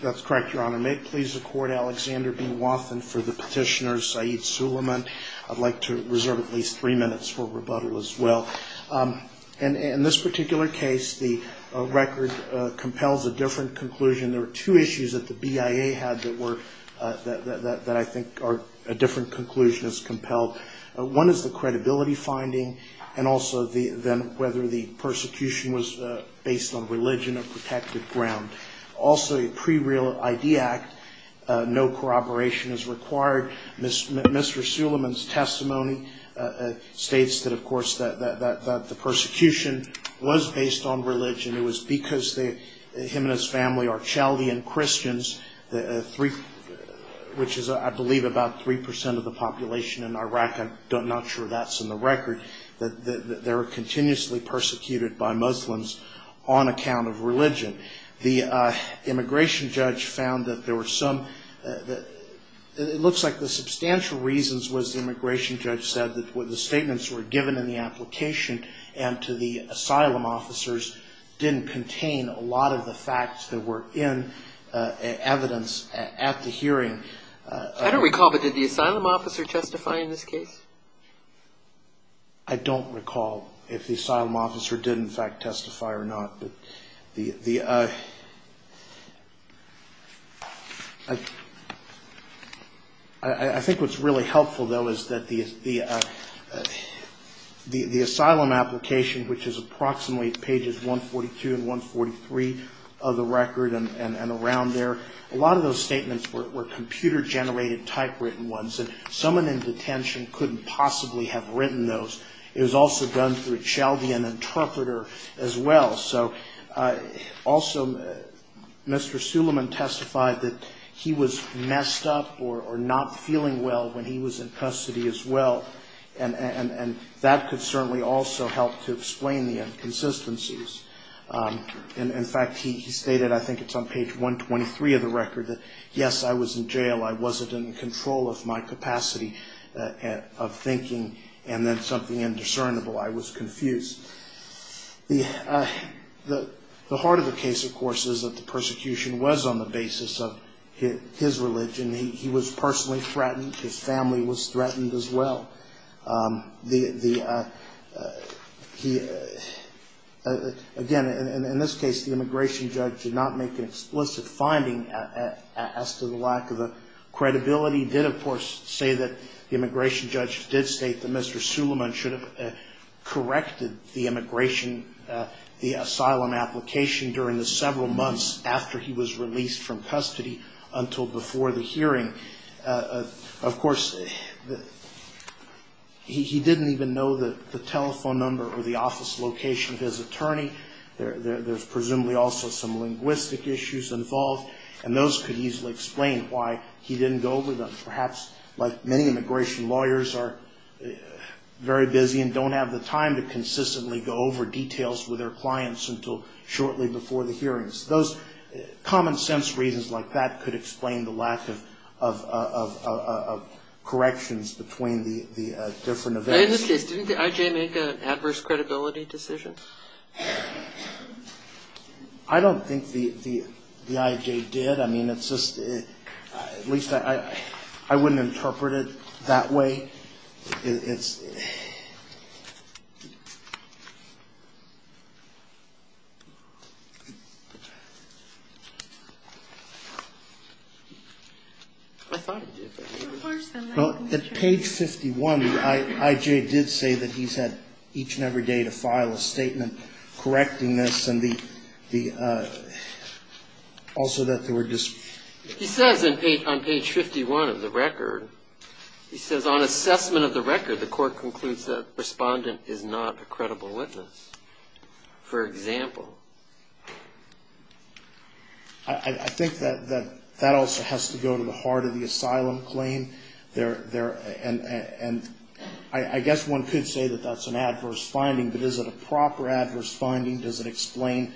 That's correct, Your Honor. May it please the Court, Alexander B. Wathen for the petitioner, Saeed Sulaiman. I'd like to reserve at least three minutes for rebuttal as well. In this particular case, the record compels a different conclusion. There were two issues that the BIA had that I think a different conclusion has compelled. One is the credibility finding, and also whether the persecution was based on religion or protected ground. Also, a pre-real ID act, no corroboration is required. Mr. Sulaiman's testimony states that, of course, that the persecution was based on religion. It was because him and his family are Chaldean Christians, which is, I believe, about 3 percent of the population in Iraq. I'm not sure that's in the record. They were continuously persecuted by Muslims on account of religion. The immigration judge found that there were some, it looks like the substantial reasons was the immigration judge said that the statements were given in the application and to the asylum officers didn't contain a lot of the facts that were in evidence at the hearing. I don't recall, but did the asylum officer testify in this case? I don't recall if the asylum officer did, in fact, testify or not. I think what's really helpful, though, is that the asylum application, which is approximately pages 142 and 143 of the record and around there, a lot of those statements were computer-generated typewritten ones. And someone in detention couldn't possibly have written those. It was also done through a Chaldean interpreter as well. So also, Mr. Sulaiman testified that he was messed up or not feeling well when he was in custody as well. And that could certainly also help to explain the inconsistencies. In fact, he stated, I think it's on page 123 of the record, that, yes, I was in jail. I wasn't in control of my capacity of thinking. And then something indiscernible, I was confused. The heart of the case, of course, is that the persecution was on the basis of his religion. He was personally threatened. His family was threatened as well. Again, in this case, the immigration judge did not make an explicit finding as to the lack of credibility. He did, of course, say that the immigration judge did state that Mr. Sulaiman should have corrected the immigration, the asylum application during the several months after he was released from custody until before the hearing. Of course, he didn't even know the telephone number or the office location of his attorney. There's presumably also some linguistic issues involved. And those could easily explain why he didn't go over them. Perhaps, like many immigration lawyers are very busy and don't have the time to consistently go over details with their clients until shortly before the hearings. Those common-sense reasons like that could explain the lack of corrections between the different events. In this case, didn't the I.J. make an adverse credibility decision? I don't think the I.J. did. I mean, it's just at least I wouldn't interpret it that way. It's ‑‑ I thought it did. Well, at page 51, the I.J. did say that he's had each and every day to file a statement correcting this and the ‑‑ also that there were just ‑‑ He says on page 51 of the record, he says, on assessment of the record, the court concludes that the respondent is not a credible witness, for example. I think that that also has to go to the heart of the asylum claim. And I guess one could say that that's an adverse finding, but is it a proper adverse finding? Does it explain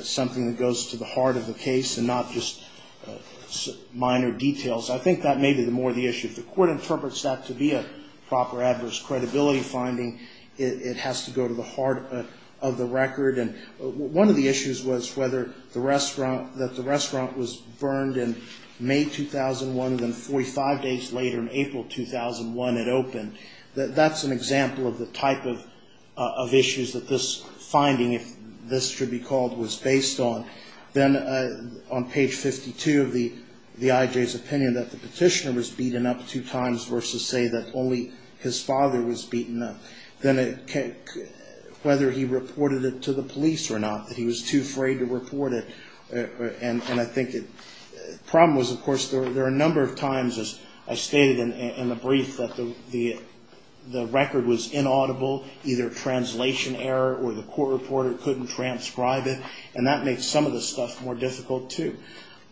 something that goes to the heart of the case and not just minor details? I think that may be more the issue. If the court interprets that to be a proper adverse credibility finding, it has to go to the heart of the record. And one of the issues was whether the restaurant ‑‑ that the restaurant was burned in May 2001 and then 45 days later, in April 2001, it opened. That's an example of the type of issues that this finding, if this should be called, was based on. Then on page 52 of the I.J.'s opinion that the petitioner was beaten up two times versus say that only his father was beaten up. Then whether he reported it to the police or not, that he was too afraid to report it. And I think the problem was, of course, there are a number of times, as I stated in the brief, that the record was inaudible, either translation error or the court reporter couldn't transcribe it. And that makes some of the stuff more difficult, too.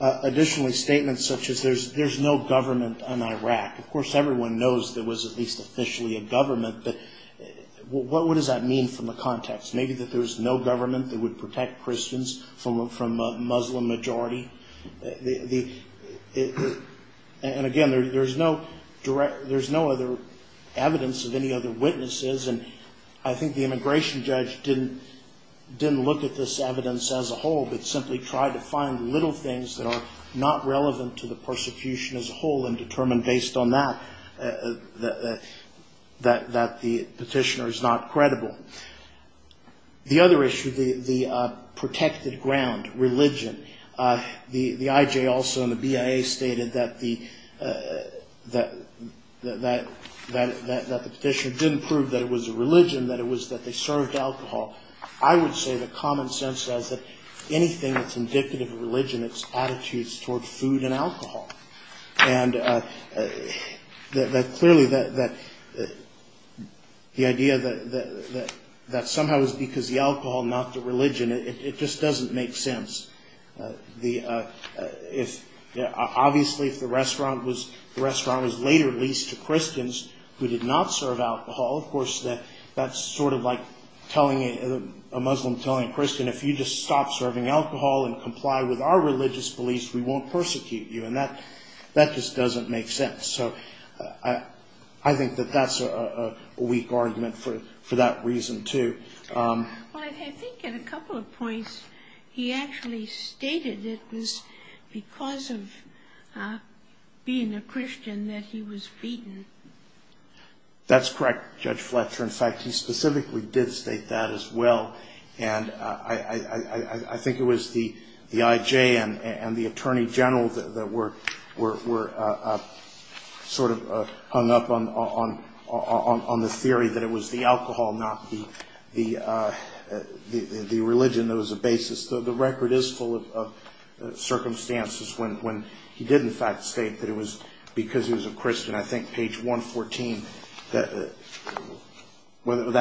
Additionally, statements such as there's no government in Iraq. Of course, everyone knows there was at least officially a government, but what does that mean from the context? Maybe that there was no government that would protect Christians from a Muslim majority? And again, there's no other evidence of any other witnesses. And I think the immigration judge didn't look at this evidence as a whole, but simply tried to find little things that are not relevant to the persecution as a whole and determined based on that that the petitioner is not credible. The other issue, the protected ground, religion. The IJ also and the BIA stated that the petitioner didn't prove that it was a religion, that it was that they served alcohol. I would say that common sense says that anything that's indicative of religion, it's attitudes toward food and alcohol. And that clearly that the idea that that somehow is because the alcohol, not the religion, it just doesn't make sense. The if obviously if the restaurant was the restaurant was later leased to Christians who did not serve alcohol, of course, that that's sort of like telling a Muslim, telling a Christian, if you just stop serving alcohol and comply with our religious beliefs, we won't persecute you. And that that just doesn't make sense. So I think that that's a weak argument for that reason, too. Well, I think in a couple of points he actually stated it was because of being a Christian that he was beaten. Judge Fletcher. In fact, he specifically did state that as well. I think it was the IJ and the attorney general that were sort of hung up on the theory that it was the alcohol, not the religion that was the basis. The record is full of circumstances when he did in fact state that it was because he was a Christian. I think page 114, that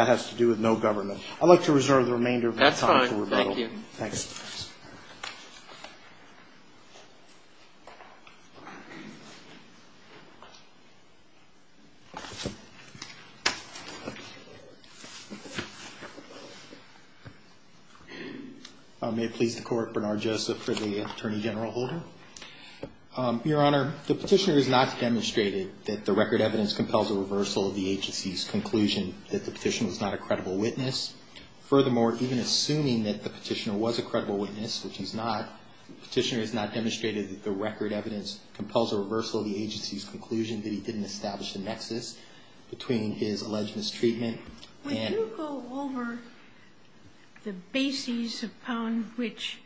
has to do with no government. I'd like to reserve the remainder of my time for rebuttal. That's fine. Thank you. Thanks. May it please the court. Bernard Joseph for the attorney general holder. Your Honor, the petitioner has not demonstrated that the record evidence compels a reversal of the agency's conclusion that the petitioner was not a credible witness. Furthermore, even assuming that the petitioner was a credible witness, which he's not, the petitioner has not demonstrated that the record evidence compels a reversal of the agency's conclusion that he didn't establish the nexus between his alleged mistreatment and Could you go over the bases upon which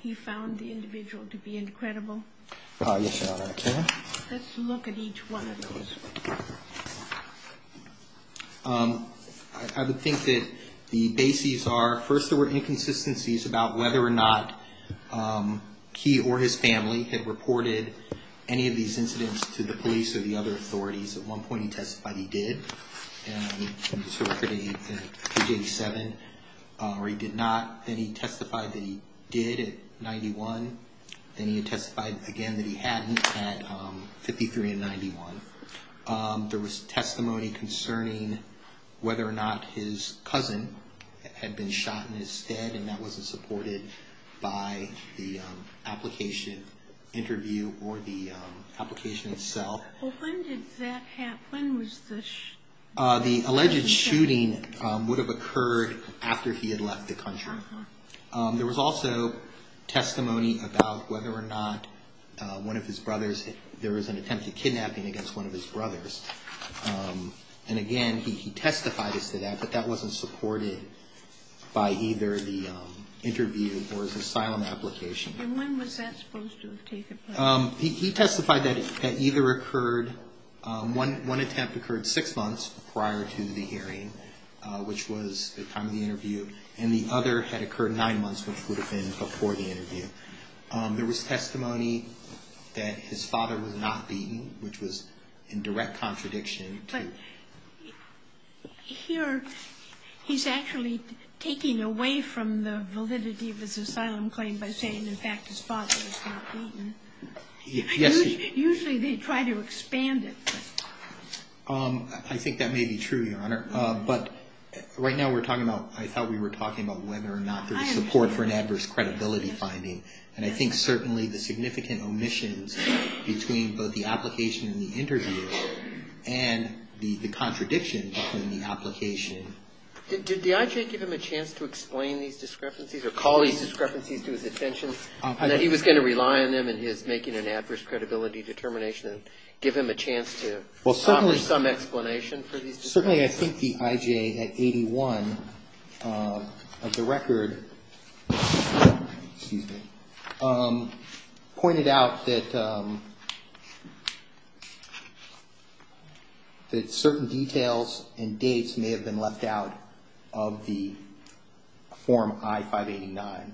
he found the individual to be incredible? Yes, Your Honor, I can. Let's look at each one of those. I would think that the bases are first there were inconsistencies about whether or not he or his family had reported any of these incidents to the police or the other authorities. At one point he testified he did. And this record in page 87. Or he did not. Then he testified that he did at 91. Then he testified again that he hadn't at 53 and 91. There was testimony concerning whether or not his cousin had been shot in his stead, and that wasn't supported by the application interview or the application itself. When did that happen? When was this? The alleged shooting would have occurred after he had left the country. There was also testimony about whether or not one of his brothers, there was an attempt at kidnapping against one of his brothers. And again, he testified to that, but that wasn't supported by either the interview or his asylum application. And when was that supposed to have taken place? He testified that either occurred, one attempt occurred six months prior to the hearing, which was the time of the interview. And the other had occurred nine months, which would have been before the interview. There was testimony that his father was not beaten, which was in direct contradiction to. Here, he's actually taking away from the validity of his asylum claim by saying, in fact, his father was not beaten. Yes. Usually they try to expand it. I think that may be true, Your Honor. But right now we're talking about, I thought we were talking about whether or not there's support for an adverse credibility finding. And I think certainly the significant omissions between both the application and the interview and the contradiction between the application. Did the IJ give him a chance to explain these discrepancies or call these discrepancies to his attention, and that he was going to rely on them in his making an adverse credibility determination and give him a chance to accomplish some explanation for these discrepancies? Certainly, I think the IJ at 81 of the record pointed out that certain details and dates may have been left out of the form I-589.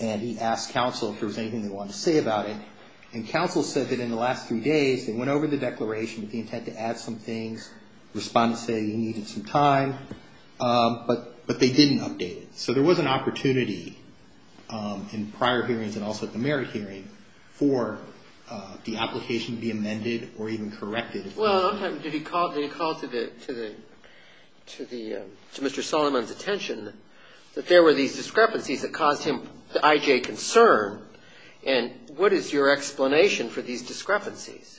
And he asked counsel if there was anything they wanted to say about it. And counsel said that in the last three days they went over the declaration with the intent to add some things, respond and say you needed some time. But they didn't update it. So there was an opportunity in prior hearings and also at the merit hearing for the application to be amended or even corrected. Well, did he call to Mr. Solomon's attention that there were these discrepancies that caused him the IJ concern? And what is your explanation for these discrepancies?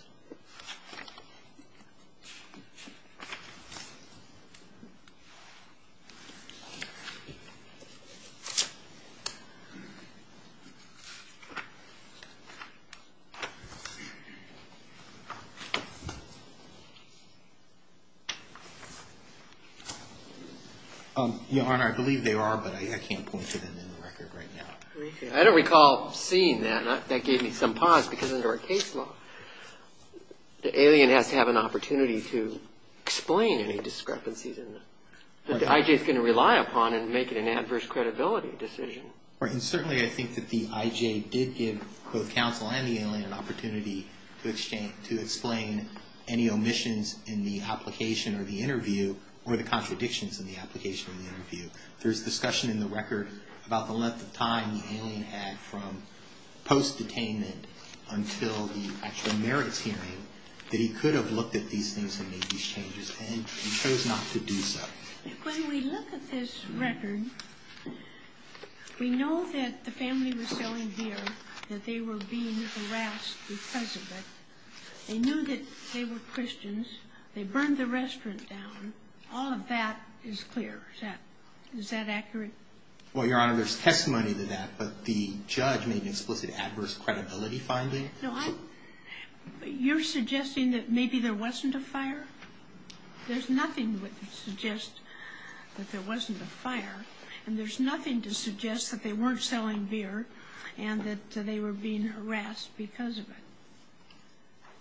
Your Honor, I believe they are, but I can't point to them in the record right now. I don't recall seeing that. That gave me some pause because under our case law, the alien has to have an opportunity to explain any discrepancies. The IJ is going to rely upon and make an adverse credibility decision. Right. And certainly I think that the IJ did give both counsel and the alien an opportunity to explain any omissions in the application or the interview or the contradictions in the application or the interview. There's discussion in the record about the length of time the alien had from post-detainment until the actual merits hearing that he could have looked at these things and made these changes, and he chose not to do so. When we look at this record, we know that the family was selling beer, that they were being harassed because of it. They knew that they were Christians. They burned the restaurant down. All of that is clear. Is that accurate? Well, Your Honor, there's testimony to that, but the judge made an explicit adverse credibility finding. You're suggesting that maybe there wasn't a fire? There's nothing to suggest that there wasn't a fire, and there's nothing to suggest that they weren't selling beer and that they were being harassed because of it.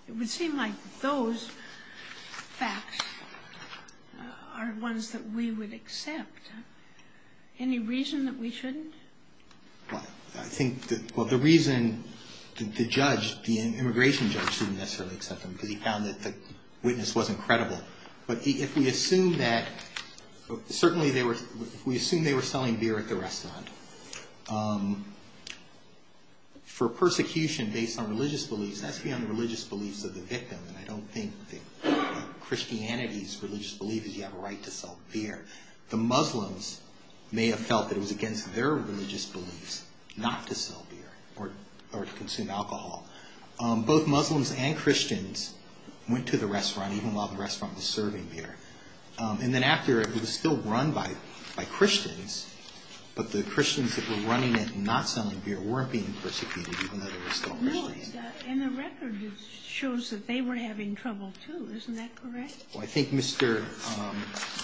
It would seem like those facts are ones that we would accept. Any reason that we shouldn't? Well, I think that the reason the judge, the immigration judge, didn't necessarily accept them because he found that the witness wasn't credible, but if we assume that certainly they were – for persecution based on religious beliefs, that's beyond the religious beliefs of the victim. I don't think Christianity's religious belief is you have a right to sell beer. The Muslims may have felt that it was against their religious beliefs not to sell beer or to consume alcohol. Both Muslims and Christians went to the restaurant, even while the restaurant was serving beer. And then after, it was still run by Christians, but the Christians that were running it and not selling beer weren't being persecuted, even though they were still Christians. And the record shows that they were having trouble, too. Isn't that correct? Well, I think Mr.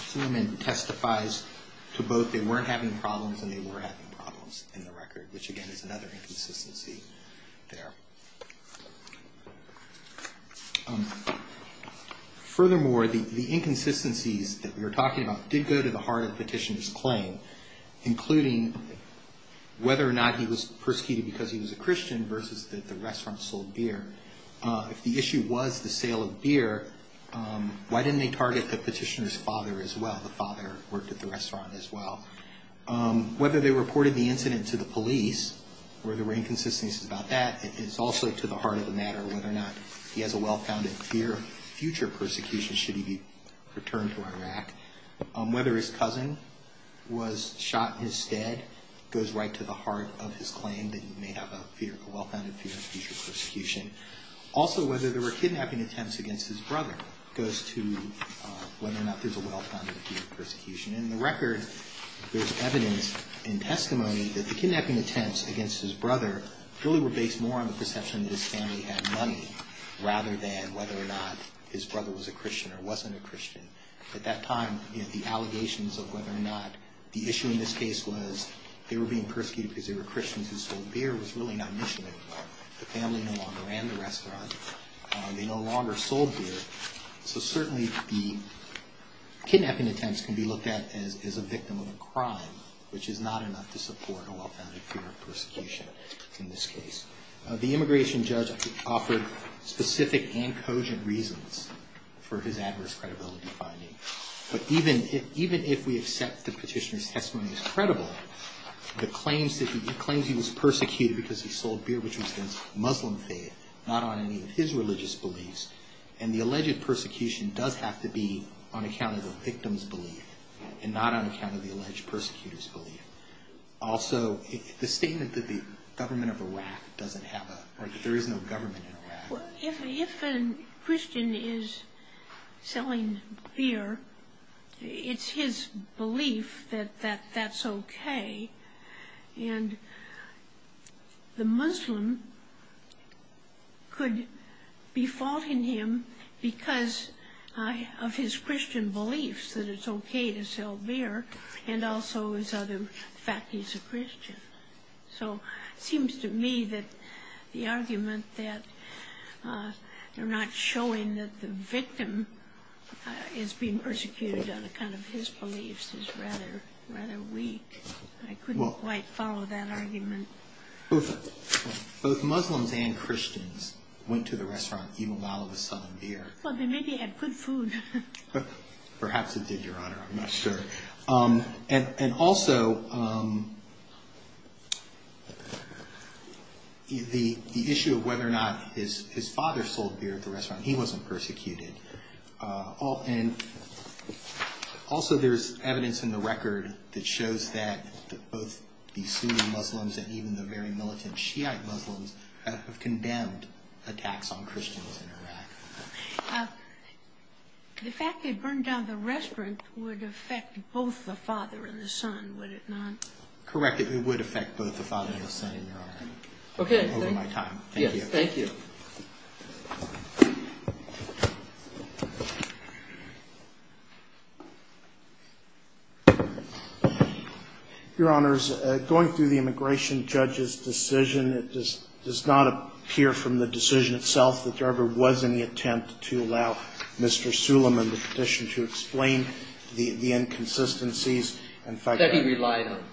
Suleiman testifies to both. They weren't having problems and they were having problems in the record, which, again, is another inconsistency there. Furthermore, the inconsistencies that we were talking about did go to the heart of the petitioner's claim, including whether or not he was persecuted because he was a Christian versus that the restaurant sold beer. If the issue was the sale of beer, why didn't they target the petitioner's father as well? The father worked at the restaurant as well. Whether they reported the incident to the police or there were inconsistencies about that, it's also to the heart of the matter whether or not he has a well-founded fear of future persecution should he be returned to Iraq. Whether his cousin was shot in his stead goes right to the heart of his claim that he may have a well-founded fear of future persecution. Also, whether there were kidnapping attempts against his brother goes to whether or not there's a well-founded fear of persecution. In the record, there's evidence and testimony that the kidnapping attempts against his brother really were based more on the perception that his family had money rather than whether or not his brother was a Christian or wasn't a Christian. At that time, the allegations of whether or not the issue in this case was they were being persecuted because they were Christians who sold beer was really not an issue anymore. The family no longer ran the restaurant. They no longer sold beer. So certainly the kidnapping attempts can be looked at as a victim of a crime, which is not enough to support a well-founded fear of persecution in this case. The immigration judge offered specific and cogent reasons for his adverse credibility finding, but even if we accept the petitioner's testimony as credible, the claims that he was persecuted because he sold beer, which was against Muslim faith, not on any of his religious beliefs, and the alleged persecution does have to be on account of the victim's belief and not on account of the alleged persecutor's belief. Also, the statement that the government of Iraq doesn't have a... or that there is no government in Iraq... If a Christian is selling beer, it's his belief that that's okay, and the Muslim could be faulting him because of his Christian beliefs that it's okay to sell beer, and also his other fact he's a Christian. So it seems to me that the argument that they're not showing that the victim is being persecuted on account of his beliefs is rather weak. I couldn't quite follow that argument. Both Muslims and Christians went to the restaurant even while it was selling beer. Well, they maybe had good food. Perhaps it did, Your Honor. I'm not sure. And also, the issue of whether or not his father sold beer at the restaurant, he wasn't persecuted. Also, there's evidence in the record that shows that both the Sunni Muslims and even the very militant Shiite Muslims have condemned attacks on Christians in Iraq. The fact they burned down the restaurant would affect both the father and the son, would it not? Correct. It would affect both the father and the son in Iraq. Okay. Over my time. Yes, thank you. Your Honors, going through the immigration judge's decision, it does not appear from the decision itself that there ever was any attempt to allow Mr. Suleiman the petition to explain the inconsistencies. That he relied on.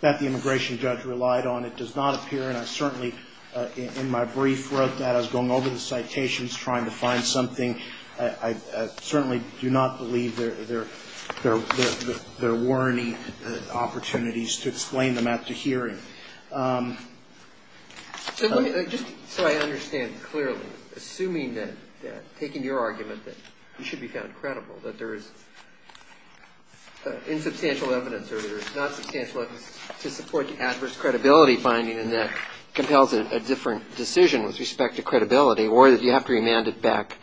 That the immigration judge relied on. It does not appear, and I certainly in my brief wrote that. I was going over the citations trying to find something. I certainly do not believe there were any opportunities to explain them at the hearing. So I understand clearly. Assuming that, taking your argument that he should be found credible, that there is insubstantial evidence or there is not substantial evidence to support the adverse credibility finding and that compels a different decision with respect to credibility or that you have to remand it back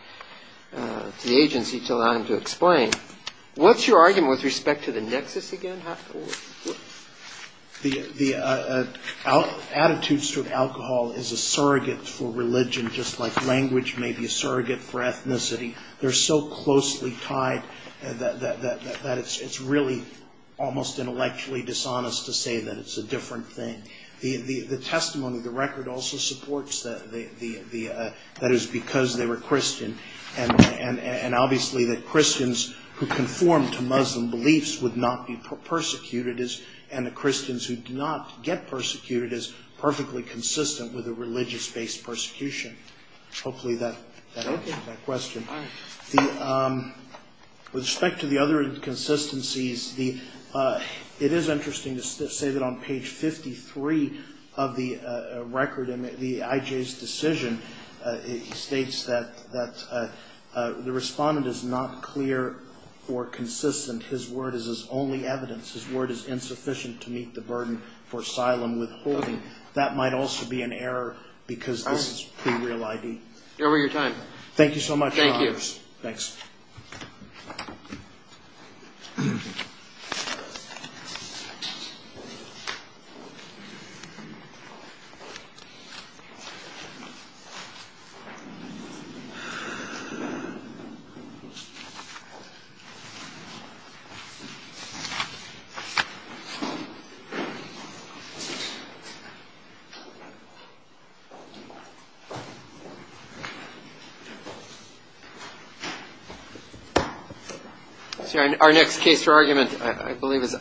to the agency to allow him to explain. What's your argument with respect to the nexus again? The attitudes toward alcohol is a surrogate for religion just like language may be a surrogate for ethnicity. They're so closely tied that it's really almost intellectually dishonest to say that it's a different thing. The testimony of the record also supports that it was because they were Christian. And obviously the Christians who conform to Muslim beliefs would not be persecuted and the Christians who do not get persecuted is perfectly consistent with a religious-based persecution. Hopefully that answers that question. With respect to the other inconsistencies, it is interesting to say that on page 53 of the record in the IJ's decision, it states that the respondent is not clear or consistent. His word is his only evidence. His word is insufficient to meet the burden for asylum withholding. That might also be an error because this is pre-real ID. You're over your time. Thank you so much. Thank you. Thanks. Thank you. Our next case for argument, I believe, is...